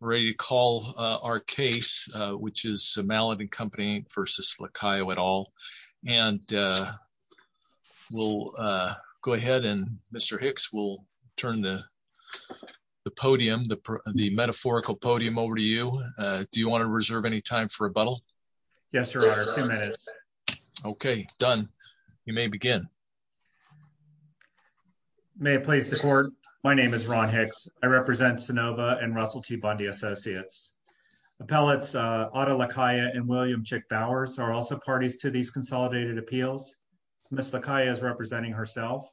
Ready to call our case, which is Mallet & Co v. Lacayo et al. And we'll go ahead and Mr. Hicks, we'll turn the podium, the metaphorical podium over to you. Do you want to reserve any time for rebuttal? Yes, Your Honor, two minutes. Okay, done. You may begin. May it please the Court, my name is Ron Hicks. I represent Sanova and Russell T. Bundy Associates. Appellates Otto Lacayo and William Chick Bowers are also parties to these consolidated appeals. Ms. Lacayo is representing herself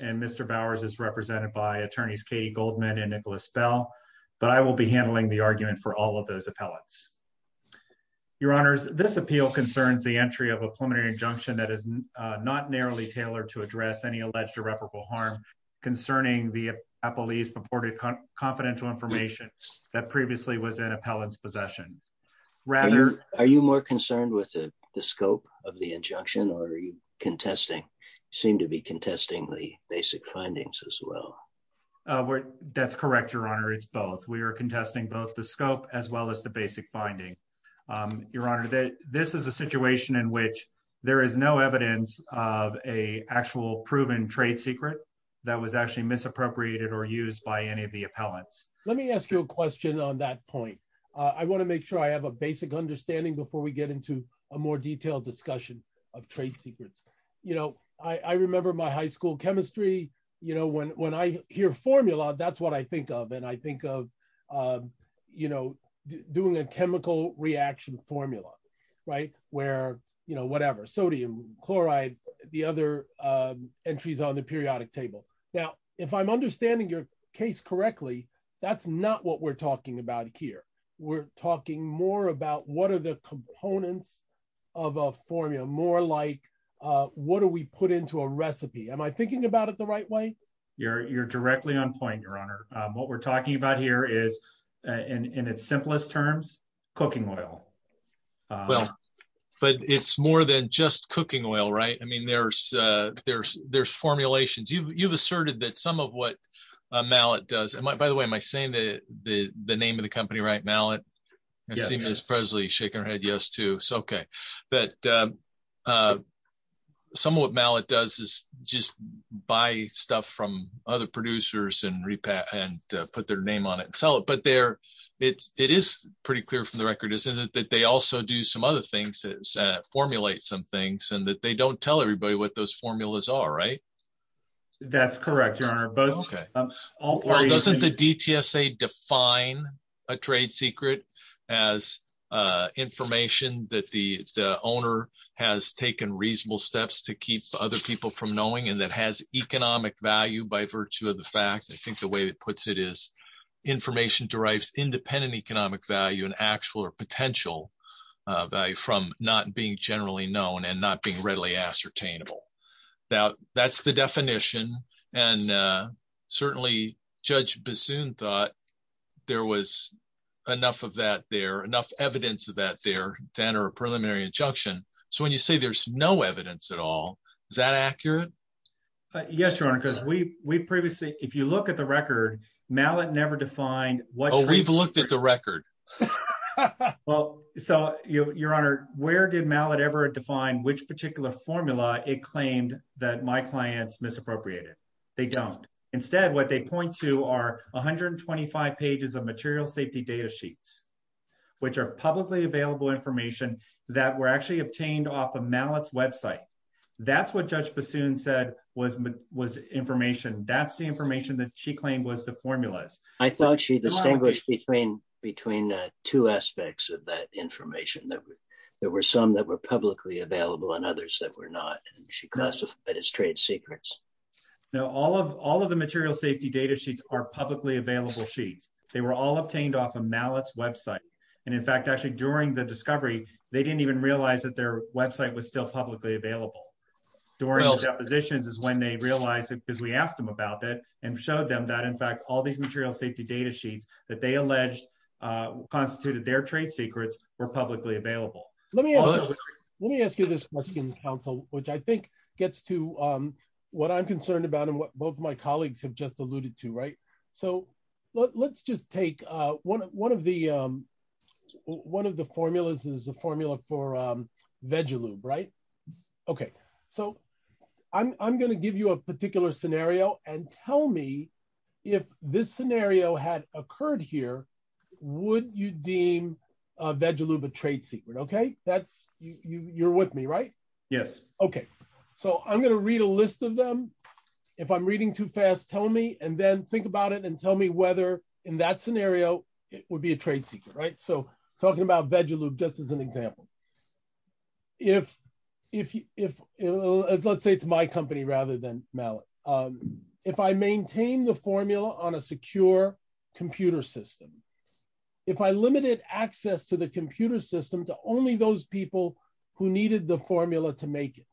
and Mr. Bowers is represented by attorneys Katie Goldman and Nicholas Bell, but I will be handling the argument for all of those appellants. Your Honors, this appeal concerns the entry of a preliminary injunction that is not narrowly tailored to address any alleged irreparable harm concerning the appellee's purported confidential information that previously was an appellant's possession. Are you more concerned with the scope of the injunction or are you contesting, seem to be contesting the basic findings as well? That's correct, Your Honor, it's both. We are contesting both the scope as well as the basic finding. Your Honor, this is a situation in which there is no evidence of a actual proven trade secret that was actually misappropriated or used by any of the appellants. Let me ask you a question on that point. I want to make sure I have a basic understanding before we get into a more detailed discussion of trade secrets. You know, I remember my high school chemistry, you know, when I hear formula, that's what I think of, I think of, you know, doing a chemical reaction formula, right? Where, you know, whatever sodium, chloride, the other entries on the periodic table. Now, if I'm understanding your case correctly, that's not what we're talking about here. We're talking more about what are the components of a formula, more like what do we put into a recipe? Am I thinking about it the right way? You're directly on point, Your Honor. What we're talking about here is, in its simplest terms, cooking oil. Well, but it's more than just cooking oil, right? I mean, there's formulations. You've asserted that some of what Mallet does, and by the way, am I saying the name of the company right, Mallet? Yes. I see Ms. Presley shaking her head yes too, okay. But some of what Mallet does is just buy stuff from other producers and repack and put their name on it and sell it. But there, it is pretty clear from the record, isn't it, that they also do some other things, formulate some things, and that they don't tell everybody what those formulas are, right? That's correct, Your Honor. But doesn't the DTSA define a trade secret as information that the owner has taken reasonable steps to keep other people from knowing and that has economic value by virtue of the fact, I think the way it puts it is, information derives independent economic value and actual or potential value from not being generally known and not being readily ascertainable. Now, that's the definition, and certainly Judge Bassoon thought there was enough of that there, enough evidence of that there to enter a preliminary injunction. So, when you say there's no evidence at all, is that accurate? Yes, Your Honor, because we previously, if you look at the record, Mallet never defined what- Oh, we've looked at the record. Well, so, Your Honor, where did Mallet ever define which particular formula it claimed that my clients misappropriated? They don't. Instead, what they point to are 125 pages of material safety data sheets, which are publicly available information that were actually obtained off of Mallet's website. That's what Judge Bassoon said was information. That's the information that she claimed was the formulas. I thought she distinguished between two aspects of that information, that there were some that were publicly available and others that were not, and she classified it as trade secrets. No, all of the material safety data sheets are publicly available sheets. They were all obtained off of Mallet's website. In fact, actually, during the discovery, they didn't even realize that their website was still publicly available. During the depositions is when they realized it because we asked them about it and showed them that, in fact, all these material safety data sheets that they alleged constituted their trade secrets were publicly available. Let me ask you this question, counsel, which I think gets to what I'm concerned about and what both of my colleagues have just alluded to. Let's just take one of the formulas. There's a formula for Vegalube. I'm going to give you a particular scenario and tell me if this scenario had occurred here, would you deem Vegalube a Yes. Okay. I'm going to read a list of them. If I'm reading too fast, tell me and then think about it and tell me whether in that scenario it would be a trade secret. Talking about Vegalube just as an example. Let's say it's my company rather than Mallet. If I maintain the formula on a secure computer system, if I limited access to the computer system to only those people who needed the formula to make it,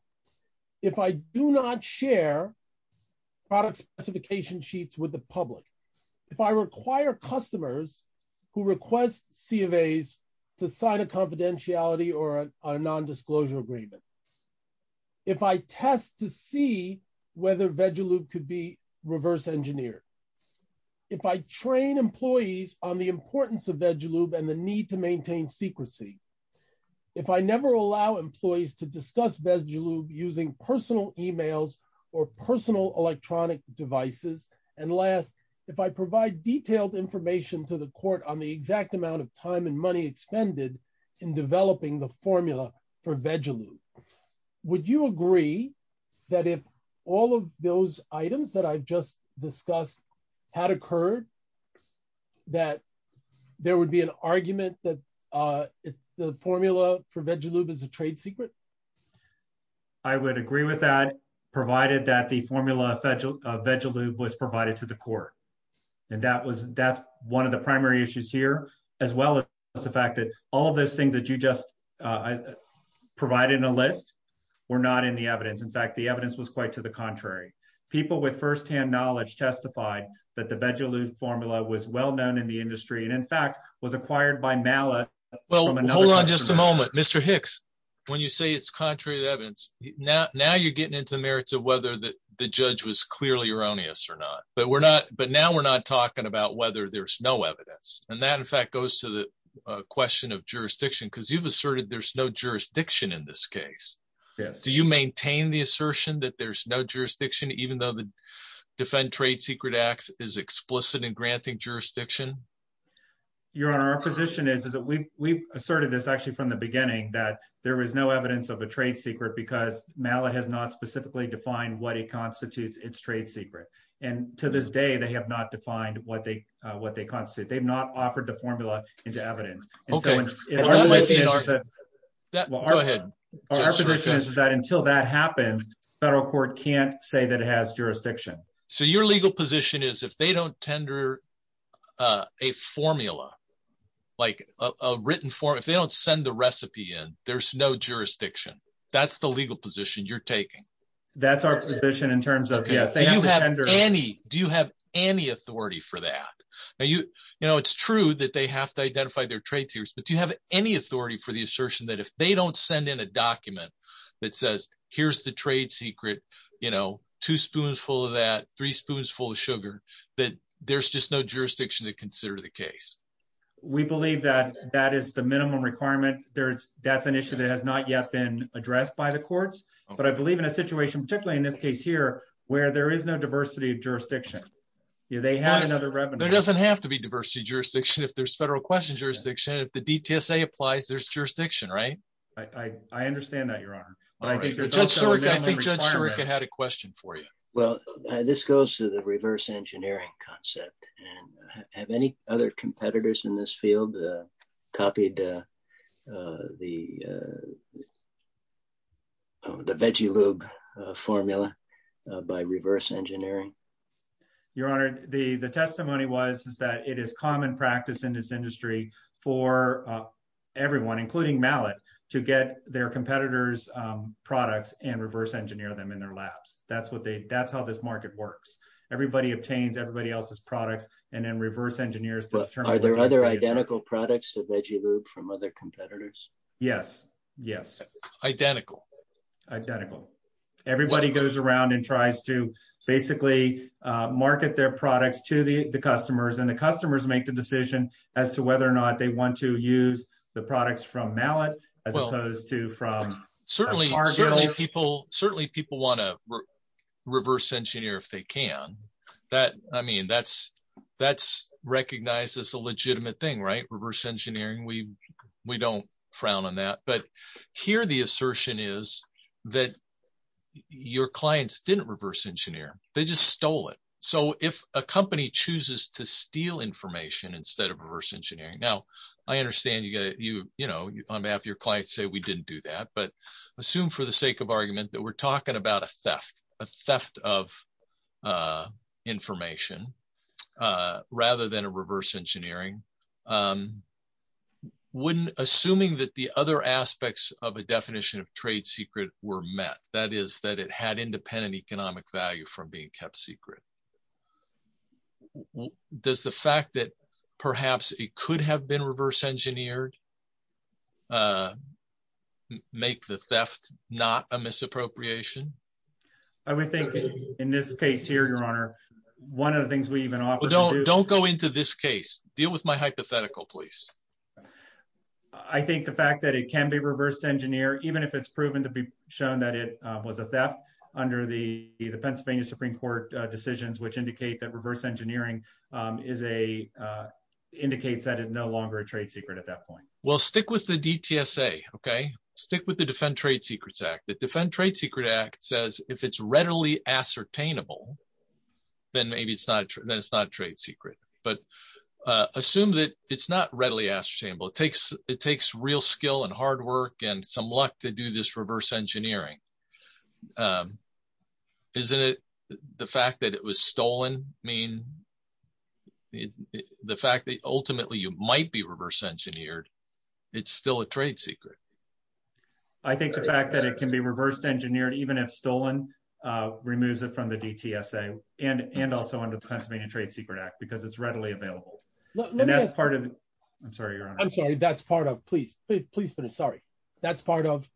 if I do not share product specification sheets with the public, if I require customers who request C of As to sign a confidentiality or a non-disclosure agreement, if I test to see whether Vegalube could be reverse engineered, if I train employees on the importance of Vegalube and the need to maintain secrecy, if I never allow employees to discuss Vegalube using personal emails or personal electronic devices, and last, if I provide detailed information to the court on the exact amount of time and money expended in developing the formula for Vegalube, would you agree that if all of those items that I've just discussed had occurred, that there would be an argument that the formula for Vegalube is a trade secret? I would agree with that, provided that the formula of Vegalube was provided to the court. And that's one of the primary issues here, as well as the fact that all of those things that you just provided in a list were not in the evidence. In fact, the evidence was quite to the contrary. People with first-hand knowledge testified that the Vegalube formula was well known in the industry and, in fact, was acquired by MALA. Well, hold on just a moment. Mr. Hicks, when you say it's contrary to evidence, now you're getting into the merits of whether the judge was clearly erroneous or not. But now we're not talking about whether there's no evidence. And that, in fact, goes to the question of jurisdiction, because you've asserted there's no jurisdiction in this even though the Defend Trade Secret Act is explicit in granting jurisdiction. Your Honor, our position is that we've asserted this, actually, from the beginning, that there was no evidence of a trade secret because MALA has not specifically defined what it constitutes its trade secret. And to this day, they have not defined what they constitute. They've not offered the formula into evidence. Our position is that until that happens, the federal court can't say that it has jurisdiction. So your legal position is if they don't tender a formula, like a written form, if they don't send the recipe in, there's no jurisdiction. That's the legal position you're taking? That's our position in terms of, yes, they have to tender. Do you have any authority for that? It's true that they have to identify their trade secrets, but do you have any authority for the assertion that if they don't send in a document that says, here's the trade secret, two spoons full of that, three spoons full of sugar, that there's just no jurisdiction to consider the case? We believe that that is the minimum requirement. That's an issue that has not yet been addressed by the courts, but I believe in a situation, particularly in this case here, where there is no diversity of jurisdiction. They have another revenue. There doesn't have to be diversity of jurisdiction. If there's federal question jurisdiction, if the DTSA applies, there's jurisdiction, right? I understand that, but I think Judge Sirica had a question for you. Well, this goes to the reverse engineering concept. Have any other competitors in this field copied the veggie lube formula by reverse engineering? Your Honor, the testimony was that it is common practice in this industry for everyone, including mallet, to get their competitors' products and reverse engineer them in their labs. That's how this market works. Everybody obtains everybody else's products and then reverse engineers to determine- Are there other identical products to veggie lube from other competitors? Yes. Yes. Identical. Identical. Everybody goes around and tries to basically market their products to the customers and the customers make the decision as to whether or not they want to reverse engineer. Certainly, people want to reverse engineer if they can. That's recognized as a legitimate thing, right? Reverse engineering, we don't frown on that. Here, the assertion is that your clients didn't reverse engineer. They just stole it. If a company chooses to steal information instead of reverse engineering- Now, I understand on behalf of your clients, say we didn't do that, but assume for the sake of argument that we're talking about a theft, a theft of information rather than a reverse engineering. Assuming that the other aspects of a definition of trade secret were met, that is that it had independent economic value from being kept secret. Does the fact that perhaps it could have been reverse engineered make the theft not a misappropriation? I would think in this case here, Your Honor, one of the things we even offer- Don't go into this case. Deal with my hypothetical, please. I think the fact that it can be reversed engineer, even if it's proven to be that it was a theft under the Pennsylvania Supreme Court decisions, which indicate that reverse engineering indicates that it's no longer a trade secret at that point. Well, stick with the DTSA, okay? Stick with the Defend Trade Secrets Act. The Defend Trade Secret Act says if it's readily ascertainable, then maybe it's not a trade secret. Assume that it's not readily ascertainable. It takes real skill and hard work and some luck to do this reverse engineering. The fact that ultimately you might be reverse engineered, it's still a trade secret. I think the fact that it can be reversed engineered, even if stolen, removes it from the DTSA and also under the Pennsylvania Trade Secret Act because it's readily available. I'm sorry, Your Honor. I'm sorry. That's part of- Please finish. Sorry. That's part of-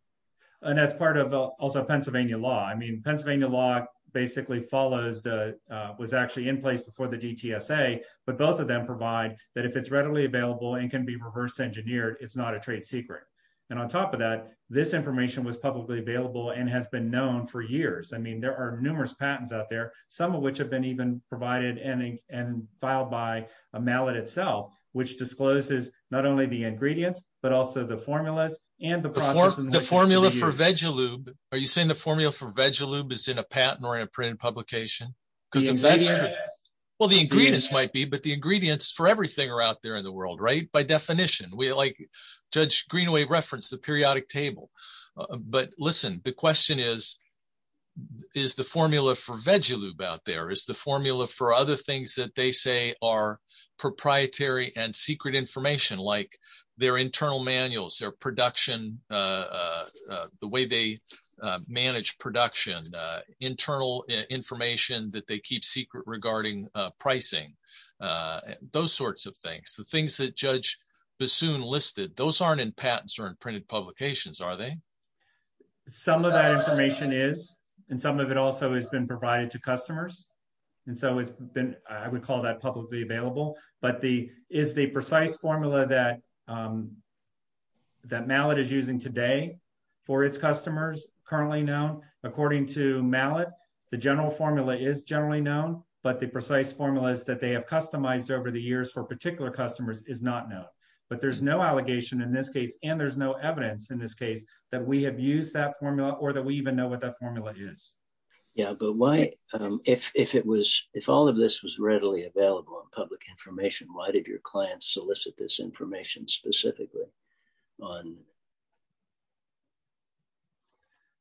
And that's part of also Pennsylvania law. I mean, Pennsylvania law basically was actually in place before the DTSA, but both of them provide that if it's readily available and can be reverse engineered, it's not a trade secret. And on top of that, this information was publicly available and has been known for years. I mean, there are numerous patents out there, some of which have been even provided and filed by Mallet itself, which discloses not only the ingredients, but the formula for Vegalube. Are you saying the formula for Vegalube is in a patent or in a printed publication? Well, the ingredients might be, but the ingredients for everything are out there in the world, right? By definition, like Judge Greenaway referenced the periodic table. But listen, the question is, is the formula for Vegalube out there? Is the formula for other things that they say are proprietary and secret information like their internal manuals, their production, the way they manage production, internal information that they keep secret regarding pricing, those sorts of things. The things that Judge Bassoon listed, those aren't in patents or in printed publications, are they? Some of that information is, and some of it also has been provided to customers. And so it's been, I would call that publicly available. But the, is the precise formula that Mallet is using today for its customers currently known? According to Mallet, the general formula is generally known, but the precise formulas that they have customized over the years for particular customers is not known. But there's no allegation in this case, and there's no evidence in this case, that we have used that formula or that we even know what that formula is. Yeah, but why, if all of this was readily available on public information, why did your client solicit this information specifically on...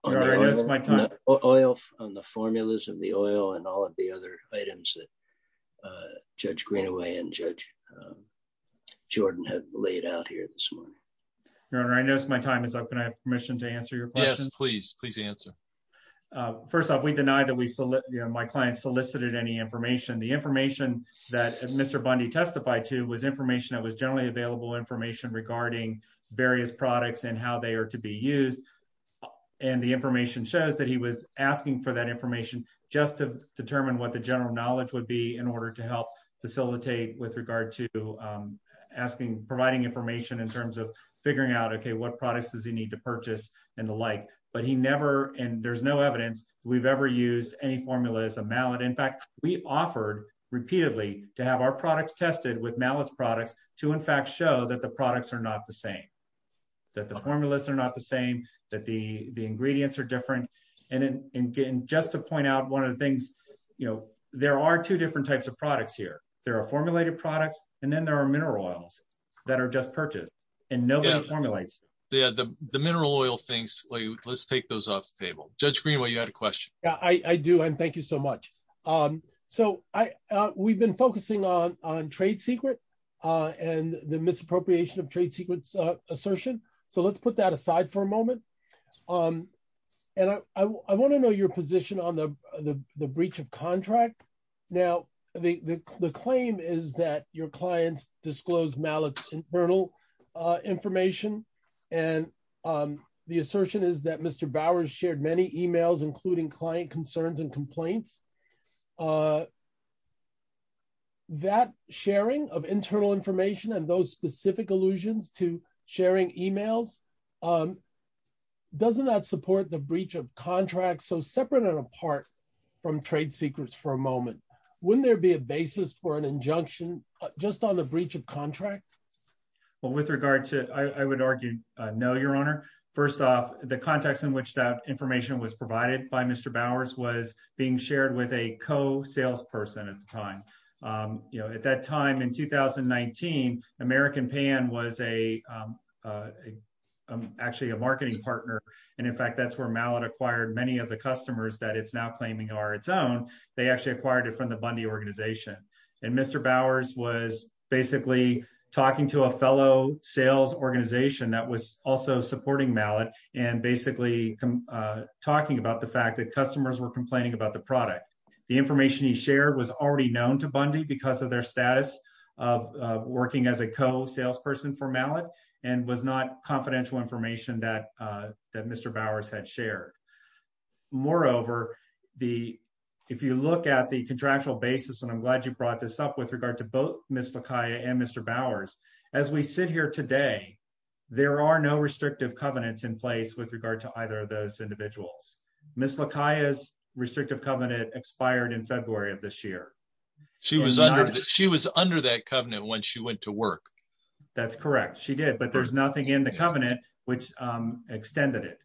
Your Honor, I know it's my time. Oil, on the formulas of the oil and all of the other items that Judge Greenaway and Judge Jordan had laid out here this morning. Your Honor, I know it's my time. Can I have permission to answer your question? Yes, please. Please answer. First off, we deny that we solicit, you know, my client solicited any information. The information that Mr. Bundy testified to was information that was generally available information regarding various products and how they are to be used. And the information shows that he was asking for that information just to determine what the general knowledge would be in order to help facilitate with regard to asking, providing information in terms of figuring out, okay, what products does he need to purchase and the like. But he never, and there's no evidence we've ever used any formula as a mallet. In fact, we offered repeatedly to have our products tested with mallets products to in fact show that the products are not the same, that the formulas are not the same, that the ingredients are different. And again, just to point out one of the things, you know, there are two different types of products here. There are formulated products and then there are mineral oils that are just purchased and nobody formulates. Yeah, the mineral oil things, let's take those off the table. Judge Greenway, you had a question. Yeah, I do. And thank you so much. So we've been focusing on trade secret and the misappropriation of trade secrets assertion. So let's put that aside for a moment. And I want to know your position on the breach of contract. Now, the claim is that your clients disclose mallets internal information. And the assertion is that Mr. Bowers shared many emails, including client concerns and complaints. That sharing of internal information and those specific allusions to sharing emails, doesn't that support the breach of contract so separate and apart from trade secrets for a just on the breach of contract? Well, with regard to I would argue no, your honor. First off, the context in which that information was provided by Mr. Bowers was being shared with a co salesperson at the time. You know, at that time in 2019, American Pan was a actually a marketing partner. And in fact, that's where Mallet acquired many of the customers that it's now claiming are its own. They actually acquired it from the Bundy organization. And Mr. Bowers was basically talking to a fellow sales organization that was also supporting Mallet and basically talking about the fact that customers were complaining about the product. The information he shared was already known to Bundy because of their status of working as a co salesperson for Mallet and was not confidential information that Mr. Bowers had shared. Moreover, if you look at the contractual basis, and I'm glad you brought this up with regard to both Ms. LaCaya and Mr. Bowers, as we sit here today, there are no restrictive covenants in place with regard to either of those individuals. Ms. LaCaya's restrictive covenant expired in February of this year. She was under that covenant when she went to work. That's correct. She did, but there's nothing in the covenant which extended it.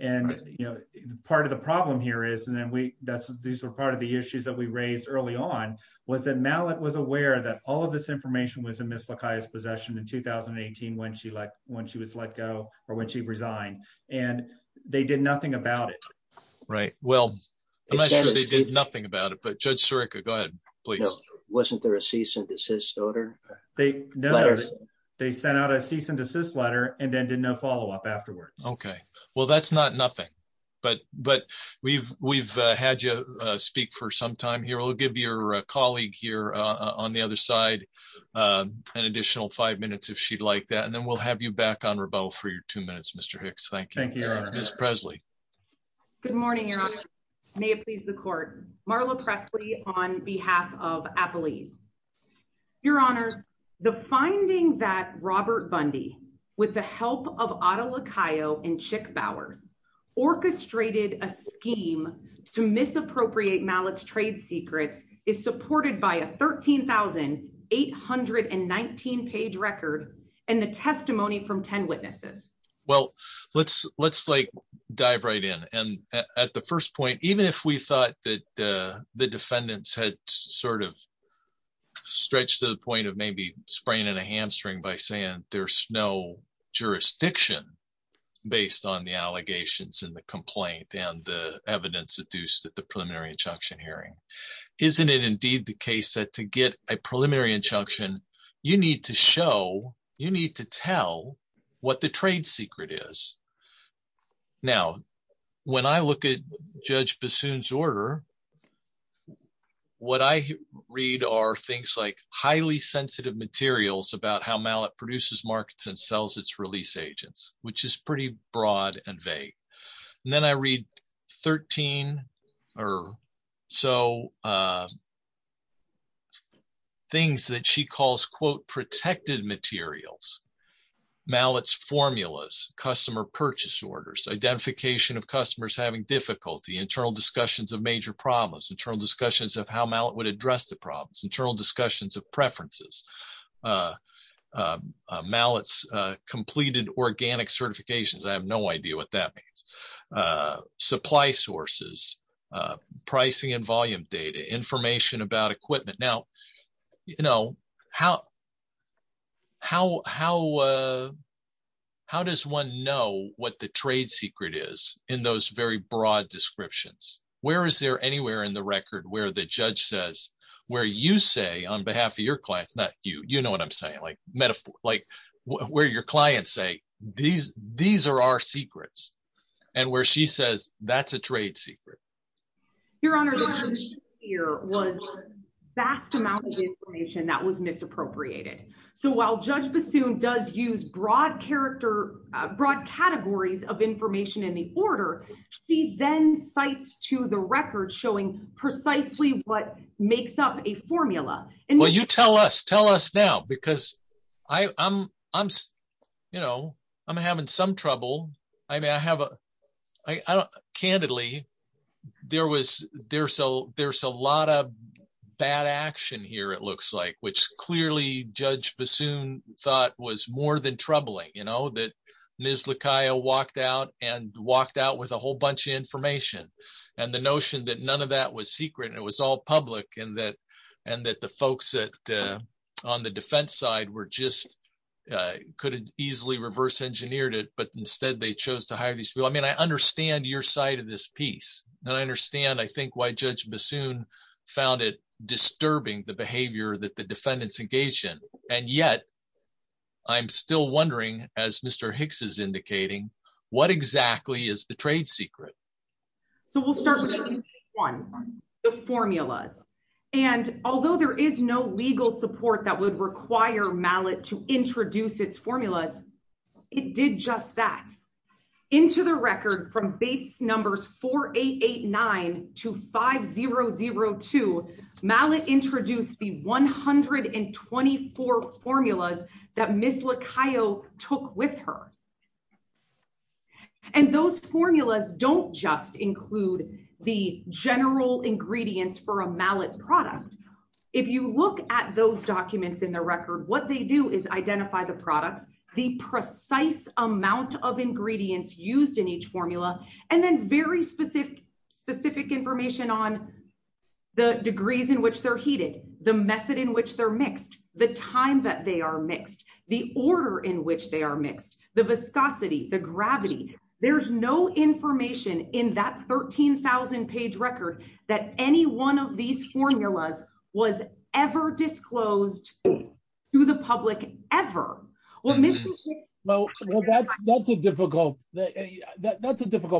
And, you know, part of the problem here is, and then we, that's, these were part of the issues that we raised early on, was that Mallet was aware that all of this information was in Ms. LaCaya's possession in 2018 when she left, when she was let go or when she resigned. And they did nothing about it. Right. Well, I'm not sure they did nothing about it, but Judge Surica, go ahead, please. Wasn't there a cease and desist order? They sent out a cease and desist letter and then did no follow-up afterwards. Okay. Well, that's not nothing, but we've had you speak for some time here. We'll give your colleague here on the other side an additional five minutes if she'd like that, and then we'll have you back on rebuttal for your two minutes, Mr. Hicks. Thank you. Thank you, Your Honor. Ms. Presley. Good morning, Your Honor. May it please the court. Marla Presley on behalf of Appalese. Your Honors, the finding that Robert Bundy, with the help of Otto LaCayo and Chick Bowers, orchestrated a scheme to misappropriate Mallet's trade secrets is supported by a 13,819 page record and the testimony from 10 witnesses. Well, let's, let's dive right in. And at the first point, even if we thought that the defendants had sort of stretched to the point of maybe spraying in a hamstring by saying there's no jurisdiction based on the allegations and the complaint and the evidence deduced at the preliminary injunction hearing, isn't it indeed the case that to get a preliminary injunction, you need to show, you need to tell what the trade secret is. Now, when I look at Judge Bassoon's order, what I read are things like highly sensitive materials about how Mallet produces markets and sells its release agents, which is pretty broad and vague. And then I read 13 or so things that she calls, quote, protected materials, Mallet's formulas, customer purchase orders, identification of customers having difficulty, internal discussions of major problems, internal discussions of how Mallet would address the problems, internal discussions of preferences. Mallet's completed organic certifications. I have no idea what that means. Supply sources, pricing and volume data, information about equipment. Now, you know, how, how, how, how does one know what the trade secret is in those very broad descriptions? Where is there anywhere in the record where the judge says, where you say on behalf of your clients, not you, you know what I'm saying? Like metaphor, like where your clients say, these, these are our secrets. And where she says, that's a trade secret. Your Honor, the information here was vast amount of information that was misappropriated. So while Judge Bassoon does use broad character, broad categories of information in the order, she then cites to the record showing precisely what makes up a formula. Well, you tell us, tell us now, because I, I'm, I'm, you know, I'm having some trouble. I mean, I have a, I don't, candidly, there was, there's a, there's a lot of bad action here, it looks like, which clearly Judge Bassoon thought was more than troubling, you know, that Ms. Lacayo walked out and walked out with a whole bunch of information. And the notion that none of that was secret, and it was all public, and that, and that the folks that, on the defense side were just, could easily reverse engineered it, but instead they chose to hire these people. I mean, I understand your side of this piece, and I understand, I think, why Judge Bassoon found it disturbing the behavior that the defendants engaged in. And yet, I'm still wondering, as Mr. Hicks is indicating, what exactly is the trade secret? So we'll start with one, the formulas. And although there is no legal support that would require Mallett to introduce its formulas, it did just that. Into the record, from Bates numbers 4889 to 5002, Mallett introduced the 124 formulas that Ms. Lacayo took with her. And those formulas don't just include the general ingredients for a Mallett product. If you look at those documents in the record, what they do is identify the products, the precise amount of ingredients used in each formula, and then very specific information on the degrees in which they're heated, the method in which they're mixed, the time that they are mixed, the order in which they are mixed, the viscosity, the gravity. There's no information in that 13,000 page record that any one of these formulas was ever disclosed to the public, ever. Well, Mr. Hicks- Well, that's a difficult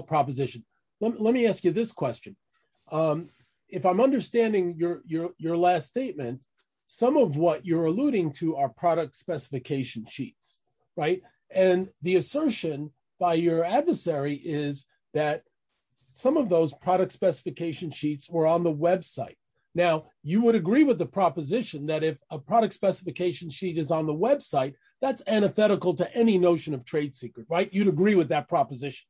proposition. Let me ask you this question. If I'm understanding your last statement, some of what you're alluding to are product specification sheets, right? And the assertion by your adversary is that some of those product specification sheets were on the website. Now, you would agree with the proposition that if a product specification sheet is on the website, that's antithetical to any notion of trade secret, right? You'd agree with that proposition?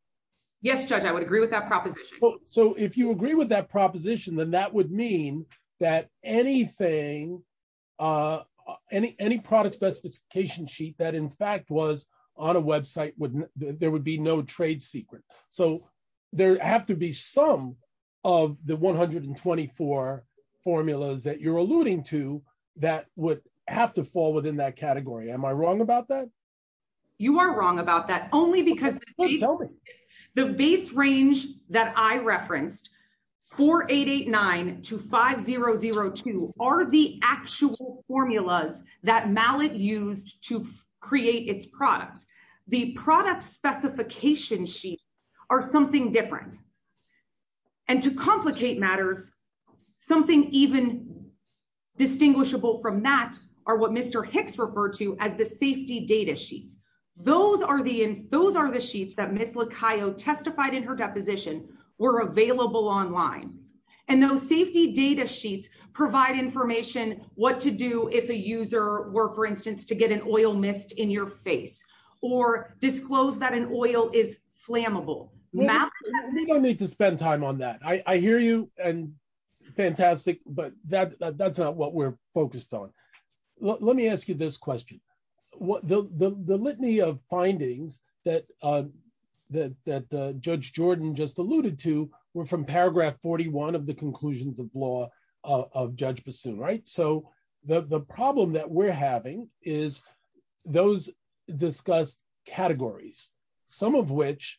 Yes, Judge, I would agree with that proposition. So if you agree with that proposition, then that would mean that anything, any product specification sheet that in fact was on a website, there would be no trade secret. So there have to be some of the 124 formulas that you're alluding to that would have to fall within that category. Am I wrong about that? You are wrong about that only because tell me. The Bates range that I referenced, 4889 to 5002 are the actual formulas that Mallet used to create its products. The product specification sheets are something different. And to complicate matters, something even distinguishable from that are what Mr. Hicks referred to as the safety data sheets. Those are the sheets that Ms. Lacayo testified in her deposition were available online. And those safety data sheets provide information what to do if a user were, for instance, to get an oil mist in your face or disclose that an oil is flammable. I think I need to spend time on that. I hear you and fantastic, but that's not what we're asking. The litany of findings that Judge Jordan just alluded to were from paragraph 41 of the conclusions of law of Judge Bassoon. So the problem that we're having is those discussed categories, some of which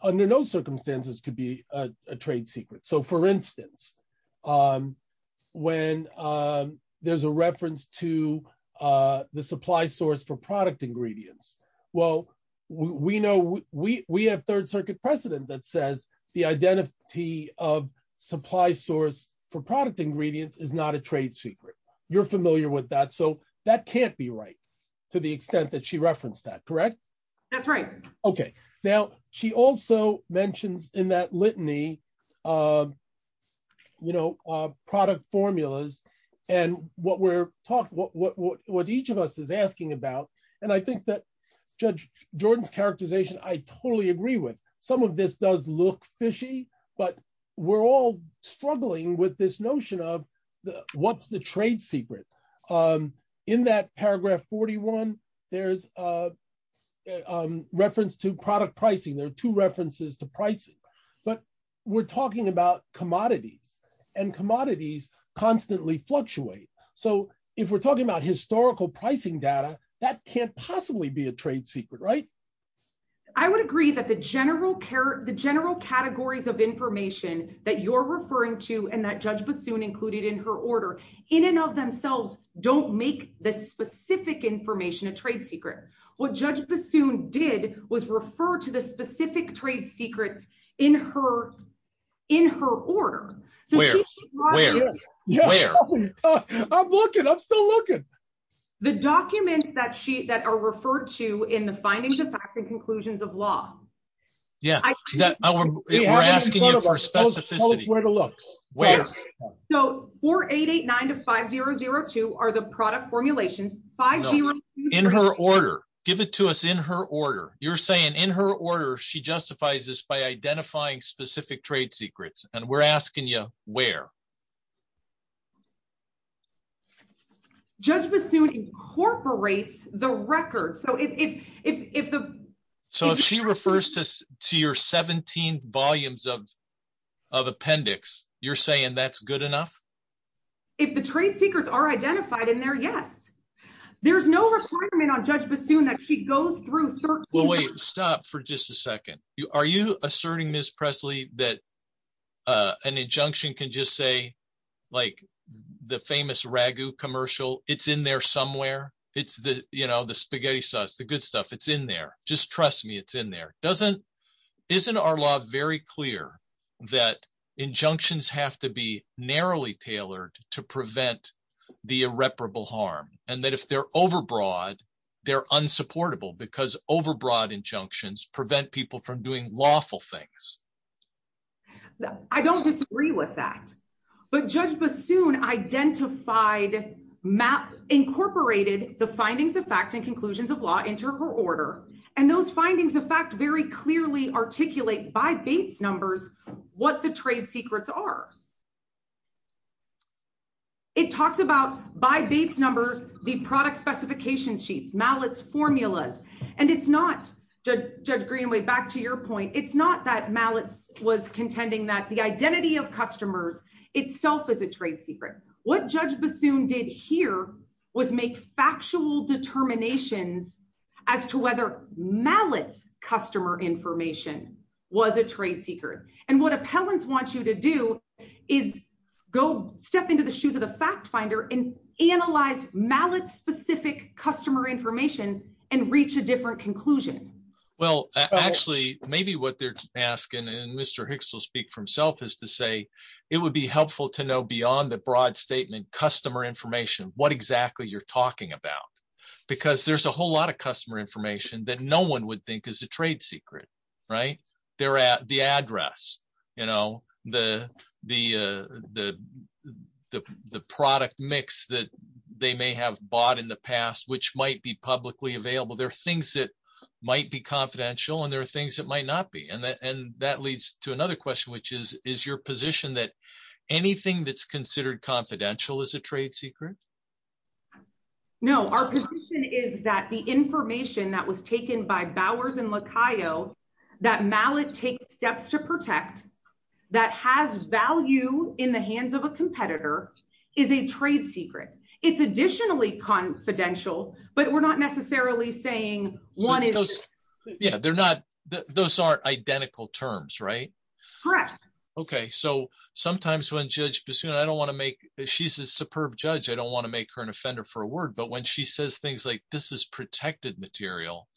under no circumstances could be a trade secret. So for instance, when there's a reference to the supply source for product ingredients, well, we know we have third circuit precedent that says the identity of supply source for product ingredients is not a trade secret. You're familiar with that. So that can't be right to the extent that she referenced that, correct? That's right. Okay. Now she also mentions in that product formulas and what each of us is asking about. And I think that Judge Jordan's characterization, I totally agree with. Some of this does look fishy, but we're all struggling with this notion of what's the trade secret. In that paragraph 41, there's a reference to product pricing. There are two references to pricing, but we're talking about and commodities constantly fluctuate. So if we're talking about historical pricing data, that can't possibly be a trade secret, right? I would agree that the general categories of information that you're referring to, and that Judge Bassoon included in her order, in and of themselves, don't make the specific information a trade secret. What Judge Bassoon did was refer to the specific trade secrets in her order. Where? I'm looking, I'm still looking. The documents that are referred to in the findings of fact and conclusions of law. Yeah. We're asking you for specificity. So 4889 to 5002 are the product formulations. No. In her order. Give it to us in her order. You're saying in her order, she justifies this by identifying specific trade secrets. And we're asking you where? Judge Bassoon incorporates the record. So if the- So if she refers to your 17 volumes of appendix, you're saying that's good enough? If the trade secrets are identified in there, yes. There's no requirement on Judge Bassoon that she goes through- Well, wait, stop for just a second. Are you asserting, Ms. Presley, that an injunction can just say, like the famous ragu commercial, it's in there somewhere? It's the spaghetti sauce, the good stuff, it's in there. Just trust me, it's in there. Isn't our law very clear that injunctions have to be narrowly tailored to prevent the irreparable harm? And that if they're overbroad, they're unsupportable because overbroad injunctions prevent people from doing lawful things. I don't disagree with that. But Judge Bassoon identified, incorporated the findings of fact and conclusions of law into her order. And those findings of fact very clearly articulate by Bates numbers what the trade secrets are. It talks about, by Bates number, the product specification sheets, Mallet's formulas. And it's not, Judge Greenway, back to your point, it's not that Mallet's was contending that the identity of customers itself is a trade secret. What Judge Bassoon did here was make factual determinations as to whether Mallet's customer information was a trade secret. And what appellants want you to do is step into the shoes of the fact finder and analyze Mallet's specific customer information and reach a different conclusion. Well, actually, maybe what they're asking, and Mr. Hicks will speak for statement, customer information, what exactly you're talking about. Because there's a whole lot of customer information that no one would think is a trade secret, right? They're at the address, you know, the product mix that they may have bought in the past, which might be publicly available. There are things that might be confidential, and there are things that might not be. And that leads to another question, which is, is your position that anything that's confidential is a trade secret? No, our position is that the information that was taken by Bowers and Lacayo, that Mallet takes steps to protect, that has value in the hands of a competitor, is a trade secret. It's additionally confidential, but we're not necessarily saying one is. Yeah, they're not, those aren't identical terms, right? Correct. Okay, so sometimes when Judge Bassoon, I don't want to make, she's a superb judge, I don't want to make her an offender for a word, but when she says things like, this is protected material,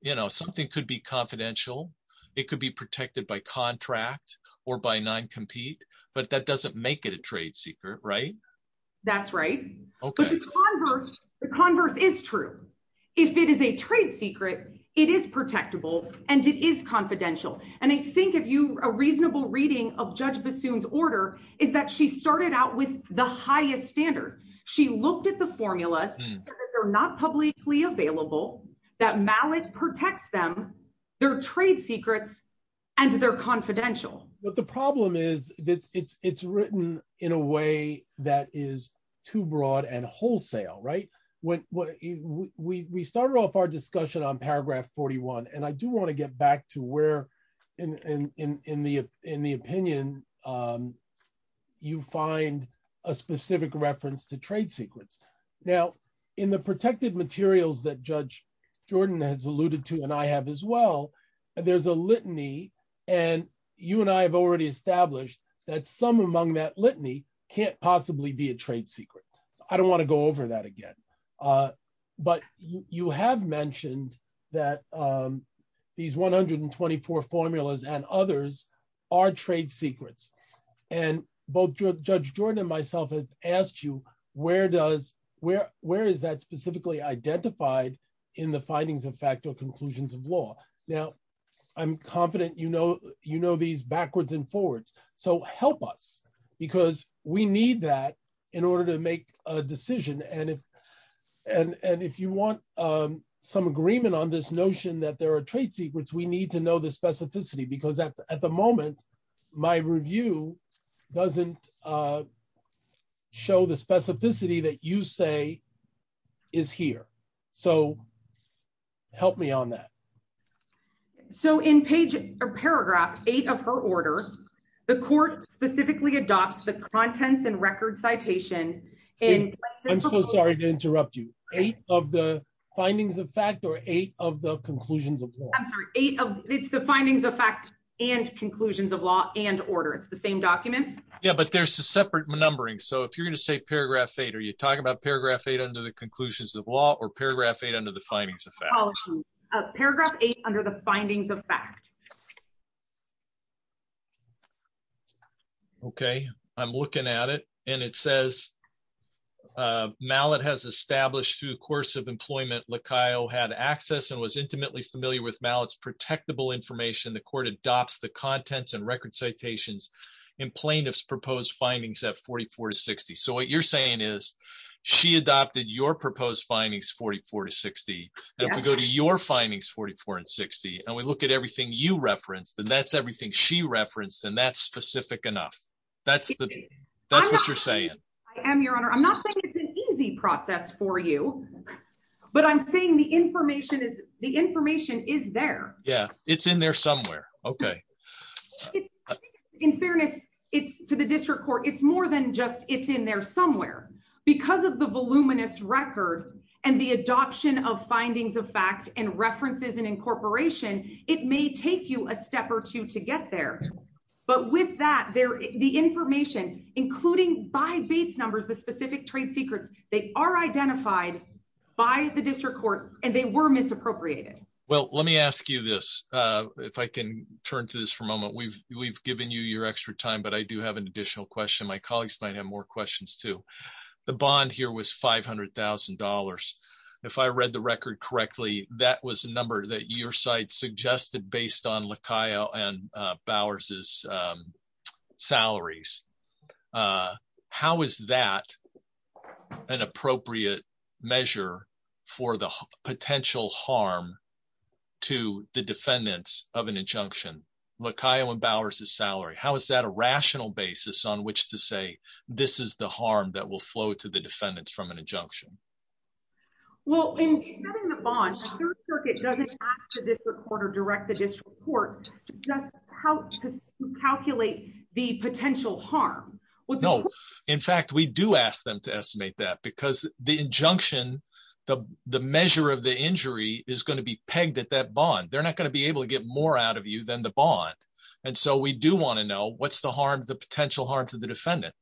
you know, something could be confidential, it could be protected by contract, or by non-compete, but that doesn't make it a trade secret, right? That's right. Okay. But the converse, the converse is true. If it is a trade secret, it is protectable, and it is confidential. And I think if you, a reasonable reading of Judge Bassoon's order, is that she started out with the highest standard. She looked at the formulas, they're not publicly available, that Mallet protects them, they're trade secrets, and they're confidential. But the problem is that it's written in a way that is too broad and wholesale, right? We started off our discussion on paragraph 41, and I do want to get back to where, in the opinion, you find a specific reference to trade secrets. Now, in the protected materials that Judge Jordan has alluded to, and I have as well, there's a litany, and you and I have already established that some among that litany can't possibly be a trade secret. I don't want to go over that again. But you have mentioned that these 124 formulas and others are trade secrets. And both Judge Jordan and myself have asked you, where is that specifically identified in the findings of fact or conclusions of law? Now, I'm confident you know these backwards and if you want some agreement on this notion that there are trade secrets, we need to know the specificity. Because at the moment, my review doesn't show the specificity that you say is here. So help me on that. So in paragraph eight of her order, the court specifically adopts the contents and record citation. I'm so sorry to interrupt you. Eight of the findings of fact or eight of the conclusions of law? I'm sorry, it's the findings of fact and conclusions of law and order. It's the same document. Yeah, but there's a separate numbering. So if you're going to say paragraph eight, are you talking about paragraph eight under the conclusions of law or paragraph eight under the findings of fact? Paragraph eight under the findings of fact. Okay, I'm looking at it and it says Mallett has established through the course of employment LaCaio had access and was intimately familiar with Mallett's protectable information. The court adopts the contents and record citations in plaintiff's proposed findings at 44 to 60. So what you're saying is she adopted your proposed findings 44 to 60. And if we go to your findings 44 and 60, and we look at everything you referenced and that's everything she referenced and that's specific enough. That's what you're saying. I am your honor. I'm not saying it's an easy process for you, but I'm saying the information is the information is there. Yeah, it's in there somewhere. Okay. In fairness, it's to the district court. It's more than just it's in there somewhere because of the voluminous record and the adoption of findings of fact and references and incorporation. It may take you a step or two to get there. But with that there, the information, including by base numbers, the specific trade secrets, they are identified by the district court and they were misappropriated. Well, let me ask you this. If I can turn to this for a moment, we've, we've given you your extra time, but I do have an additional question. My colleagues might have more questions too. The bond here was $500,000. If I read the record correctly, that was a number that your site suggested based on LaCaia and Bowers' salaries. How is that an appropriate measure for the potential harm to the defendants of an injunction? LaCaia and Bowers' salary. How is that a rational basis on which to say, this is the harm that will flow to the defendants from an injunction? Well, in having the bond, the third circuit doesn't ask the district court or direct the district court to just help to calculate the potential harm. No. In fact, we do ask them to estimate that because the injunction, the measure of the injury is going to be pegged at that bond. They're not going to be able to get more out of you than the bond. And so we do want to know what's the harm, the potential harm to the defendant.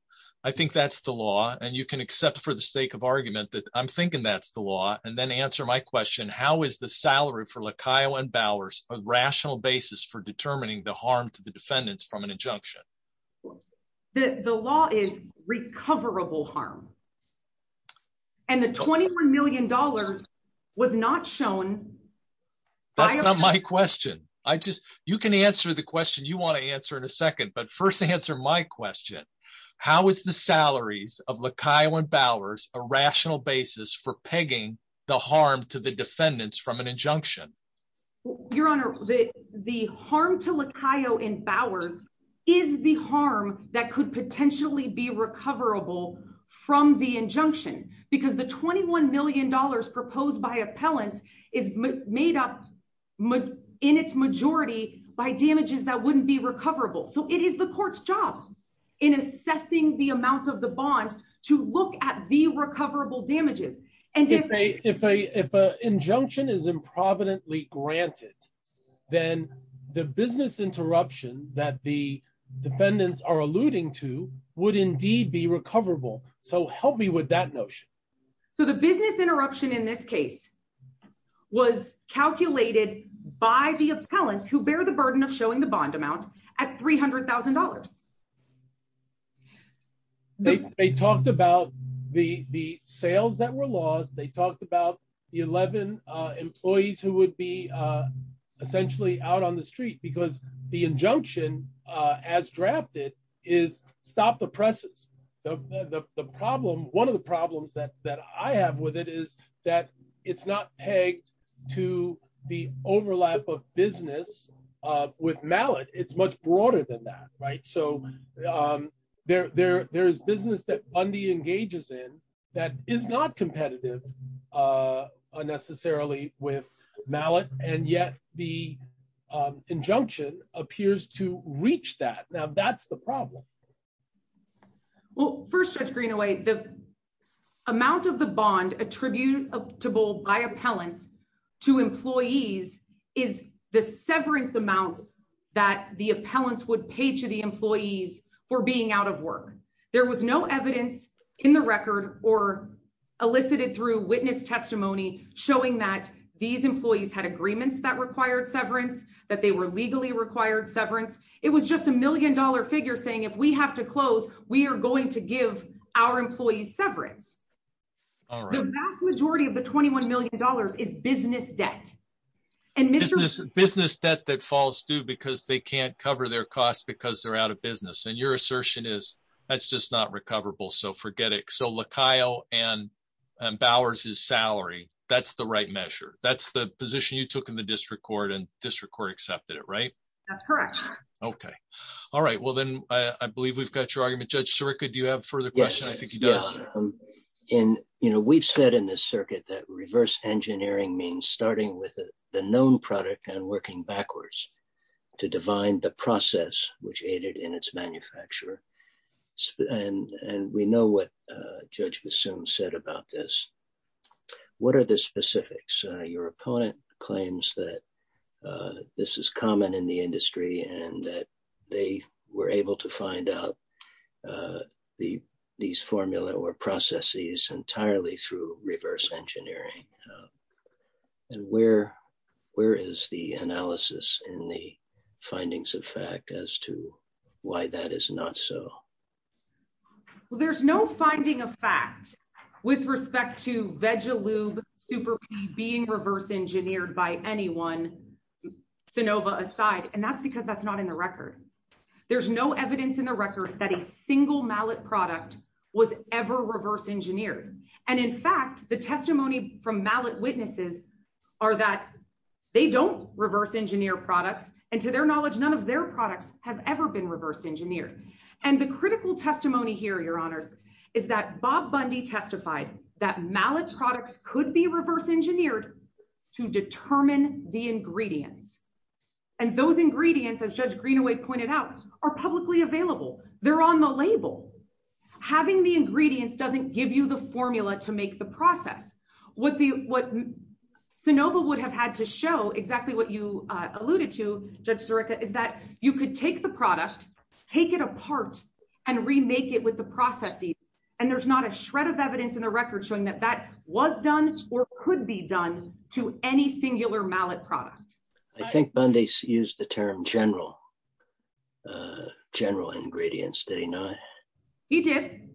I think that's the law and you can accept for the sake of argument that I'm thinking that's the law. And then answer my question, how is the salary for LaCaia and Bowers a rational basis for determining the harm to the defendants from an injunction? The law is recoverable harm. And the $21 million was not shown. That's not my question. You can answer the question you want to answer in a second, but first answer my question. How is the salaries of LaCaia and Bowers a rational basis for pegging the harm to the defendants from an injunction? Your Honor, the harm to LaCaia and Bowers is the harm that could potentially be recoverable from the injunction because the $21 million proposed by appellants is made up in its majority by damages that wouldn't be recoverable. So it is the court's job in assessing the amount of the bond to look at the recoverable damages. And if an injunction is improvidently granted, then the business interruption that the defendants are alluding to would indeed be recoverable. So help me with that notion. So the business interruption in this case was calculated by the appellants who bear the burden of showing the bond amount at $300,000. They talked about the sales that were lost. They talked about the 11 employees who would be essentially out on the street because the I have with it is that it's not pegged to the overlap of business with Mallet. It's much broader than that. So there is business that Bundy engages in that is not competitive necessarily with Mallet. And yet the injunction appears to reach that. Now that's the problem. Well, first, Judge Greenaway, the amount of the bond attributable by appellants to employees is the severance amounts that the appellants would pay to the employees for being out of work. There was no evidence in the record or elicited through witness testimony showing that these employees had agreements that required severance, that they were legally required severance. It was just a million dollar figure saying, if we have to close, we are going to give our employees severance. The vast majority of the $21 million is business debt. Business debt that falls due because they can't cover their costs because they're out of business. And your assertion is that's just not recoverable. So forget it. So LaKyle and Bowers's salary, that's the right measure. That's the position you took in the district court and correct. Okay. All right. Well, then I believe we've got your argument. Judge Sirica, do you have further questions? I think he does. We've said in this circuit that reverse engineering means starting with the known product and working backwards to divine the process, which aided in its manufacturer. And we know what Judge Bassoon said about this. What are the specifics? Your opponent claims that this is common in the industry and that they were able to find out these formula or processes entirely through reverse engineering. And where is the analysis in the findings of fact as to why that is not so? Well, there's no finding of fact with respect to Vegalube SuperP being reverse engineered by anyone, Sanova aside. And that's because that's not in the record. There's no evidence in the record that a single mallet product was ever reverse engineered. And in fact, the testimony from mallet witnesses are that they don't reverse engineer products. And to their knowledge, none of their products have ever been reverse engineered. And the critical testimony here, Your Honors, is that Bob Bundy testified that mallet products could be reverse engineered to determine the ingredients. And those ingredients, as Judge Greenaway pointed out, are publicly available. They're on the label. Having the ingredients doesn't give you the formula to make the process. What Sanova would have had to show exactly what you alluded to, Judge Sirica, is that you could take the product, take it apart, and remake it with the processes. And there's not a shred of evidence in the record showing that that was done or could be done to any singular mallet product. I think Bundy used the term general ingredients. Did he not? He did.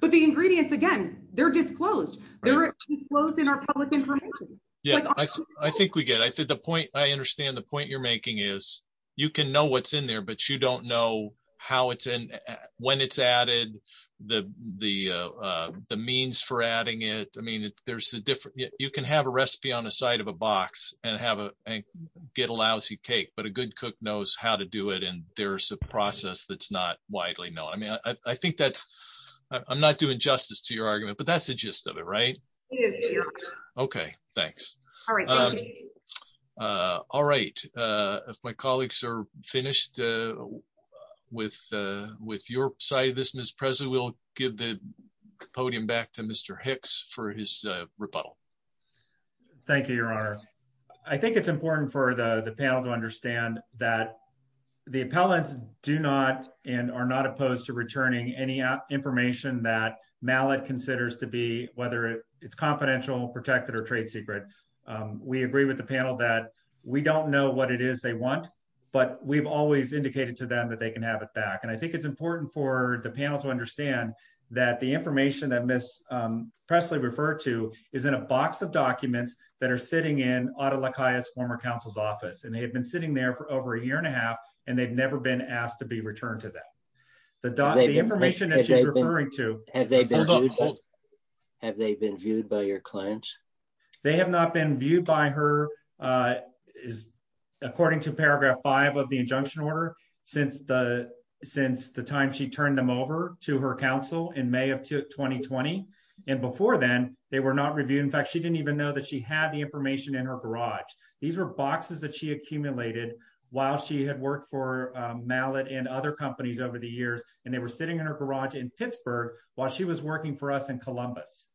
But the ingredients, again, they're disclosed. They're disclosed in our public information. Yeah, I think we get it. I understand the point you're making is you can know what's in there, but you don't know how it's in, when it's added, the means for adding it. You can have a recipe on the side of a box and get a lousy cake, but a good cook knows how to do it. And there's a process that's not widely known. I'm not doing justice to your argument, but that's the gist of it, right? It is. Okay, thanks. All right, if my colleagues are finished with your side of this, Ms. Presley, we'll give the podium back to Mr. Hicks for his rebuttal. Thank you, Your Honor. I think it's important for the panel to understand that the appellants do not and are not opposed to it. It's confidential, protected, or trade secret. We agree with the panel that we don't know what it is they want, but we've always indicated to them that they can have it back. And I think it's important for the panel to understand that the information that Ms. Presley referred to is in a box of documents that are sitting in Otto LaCaia's former counsel's office. And they have been sitting there for over a year and a half, and they've never been asked to be returned to them. The by your client? They have not been viewed by her, according to paragraph five of the injunction order, since the time she turned them over to her counsel in May of 2020. And before then, they were not reviewed. In fact, she didn't even know that she had the information in her garage. These were boxes that she accumulated while she had worked for Mallet and other companies over the years, and they were sitting in her garage in Pittsburgh while she was working for us in Columbus.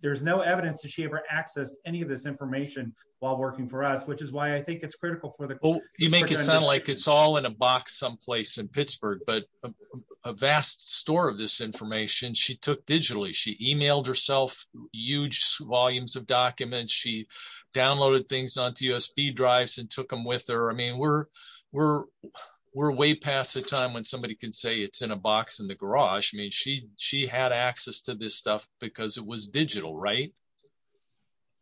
There's no evidence that she ever accessed any of this information while working for us, which is why I think it's critical for the court. You make it sound like it's all in a box someplace in Pittsburgh, but a vast store of this information she took digitally. She emailed herself huge volumes of documents. She downloaded things onto USB drives and took them with her. I mean, we're way past the time when somebody can say it's in a box in the garage. I mean, she had access to this stuff because it was digital, right?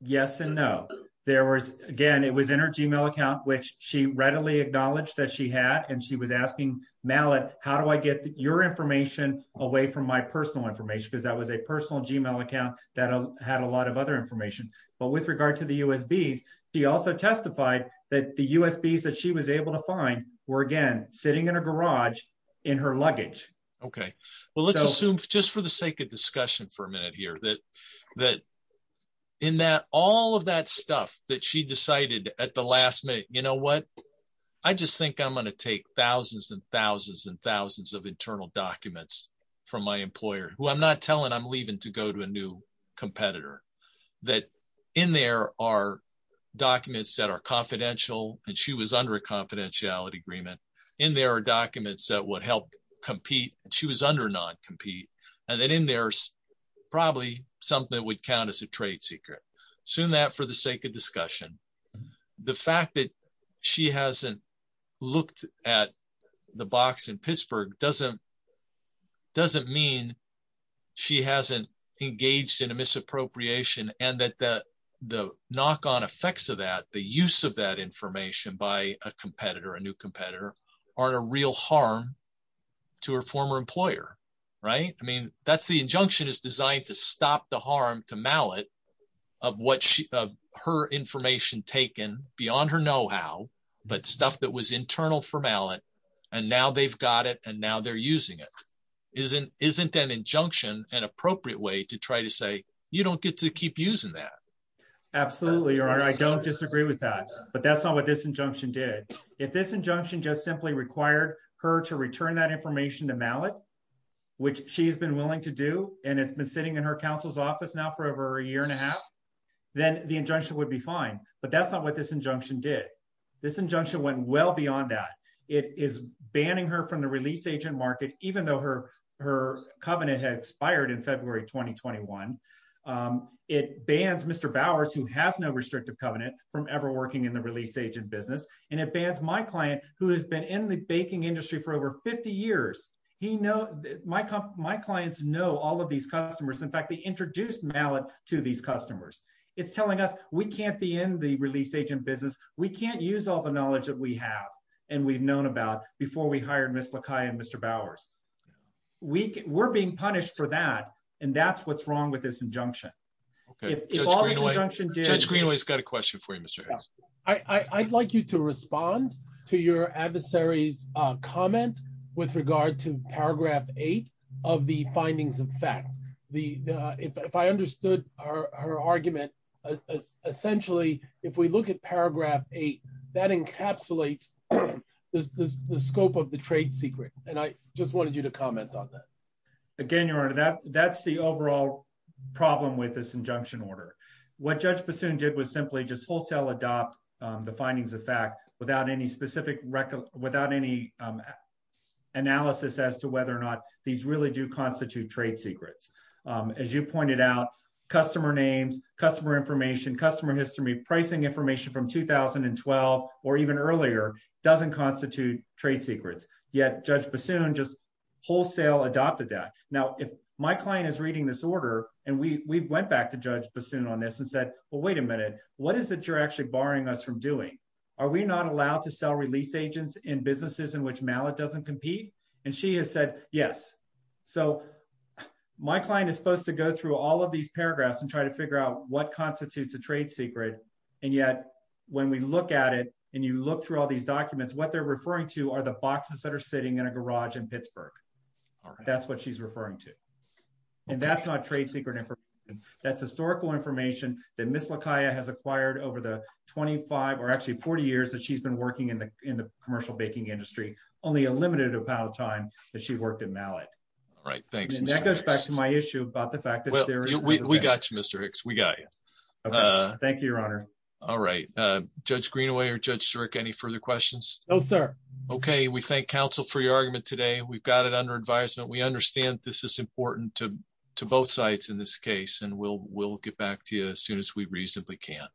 Yes and no. Again, it was in her Gmail account, which she readily acknowledged that she had, and she was asking Mallet, how do I get your information away from my personal information? Because that was a personal Gmail account that had a lot of other information. But with regard to the USBs, she also testified that the USBs that she was able to find were again, just for the sake of discussion for a minute here, that all of that stuff that she decided at the last minute, you know what? I just think I'm going to take thousands and thousands and thousands of internal documents from my employer, who I'm not telling I'm leaving to go to a new competitor. That in there are documents that are confidential, and she was under a confidentiality agreement. In there are documents that would help compete. She was under non-compete. And then in there's probably something that would count as a trade secret. Assume that for the sake of discussion. The fact that she hasn't looked at the box in Pittsburgh doesn't mean she hasn't engaged in a misappropriation and that the knock-on effects of that, the use of that aren't a real harm to her former employer, right? I mean, that's the injunction is designed to stop the harm to mallet of what her information taken beyond her know-how, but stuff that was internal for mallet. And now they've got it and now they're using it. Isn't an injunction an appropriate way to try to say, you don't get to keep using that. Absolutely. I don't disagree with that, but that's not what this injunction did. If this injunction just simply required her to return that information to mallet, which she's been willing to do, and it's been sitting in her council's office now for over a year and a half, then the injunction would be fine. But that's not what this injunction did. This injunction went well beyond that. It is banning her from the release agent market, even though her covenant had expired in February, 2021. It bans Mr. Bowers, who has no in the release agent business. And it bans my client who has been in the baking industry for over 50 years. My clients know all of these customers. In fact, they introduced mallet to these customers. It's telling us we can't be in the release agent business. We can't use all the knowledge that we have. And we've known about before we hired Ms. Lakai and Mr. Bowers. We're being punished for that. And that's what's wrong with this injunction. Judge Greenway's got a question for you, Mr. Harris. I'd like you to respond to your adversary's comment with regard to paragraph eight of the findings of fact. If I understood her argument, essentially, if we look at paragraph eight, that encapsulates the scope of the trade secret, and I just wanted you to comment on that. Again, Your Honor, that's the overall problem with this injunction order. What Judge Bassoon did was simply just wholesale adopt the findings of fact without any specific record, without any analysis as to whether or not these really do constitute trade secrets. As you pointed out, customer names, customer information, customer history, pricing information from 2012, or even earlier, doesn't constitute trade secrets. Yet, Judge Bassoon just wholesale adopted that. Now, if my client is reading this order, and we went back to Judge Bassoon on this and said, well, wait a minute, what is it you're actually barring us from doing? Are we not allowed to sell release agents in businesses in which mallet doesn't compete? And she has said, yes. So my client is supposed to go through all of these paragraphs and try to figure out what constitutes a trade secret. And yet, when we look at it, and you look through all these documents, what they're referring to are the boxes that are sitting in a garage in Pittsburgh. That's what she's referring to. And that's not trade secret information. That's historical information that Ms. Lakia has acquired over the 25, or actually 40 years that she's been working in the commercial baking industry, only a limited amount of time that she worked in mallet. All right, thanks. And that goes back to my issue about the fact that there is- We got you, Mr. Hicks. We got you. Thank you, Your Honor. All right. Judge Greenaway or Judge Siric, any further questions? No, sir. Okay. We thank counsel for your argument today. We've got it under advisement. We understand this is important to both sides in this case, and we'll get back to you as soon as we reasonably can.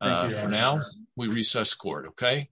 Thank you, Your Honor. For now, we recess court, okay?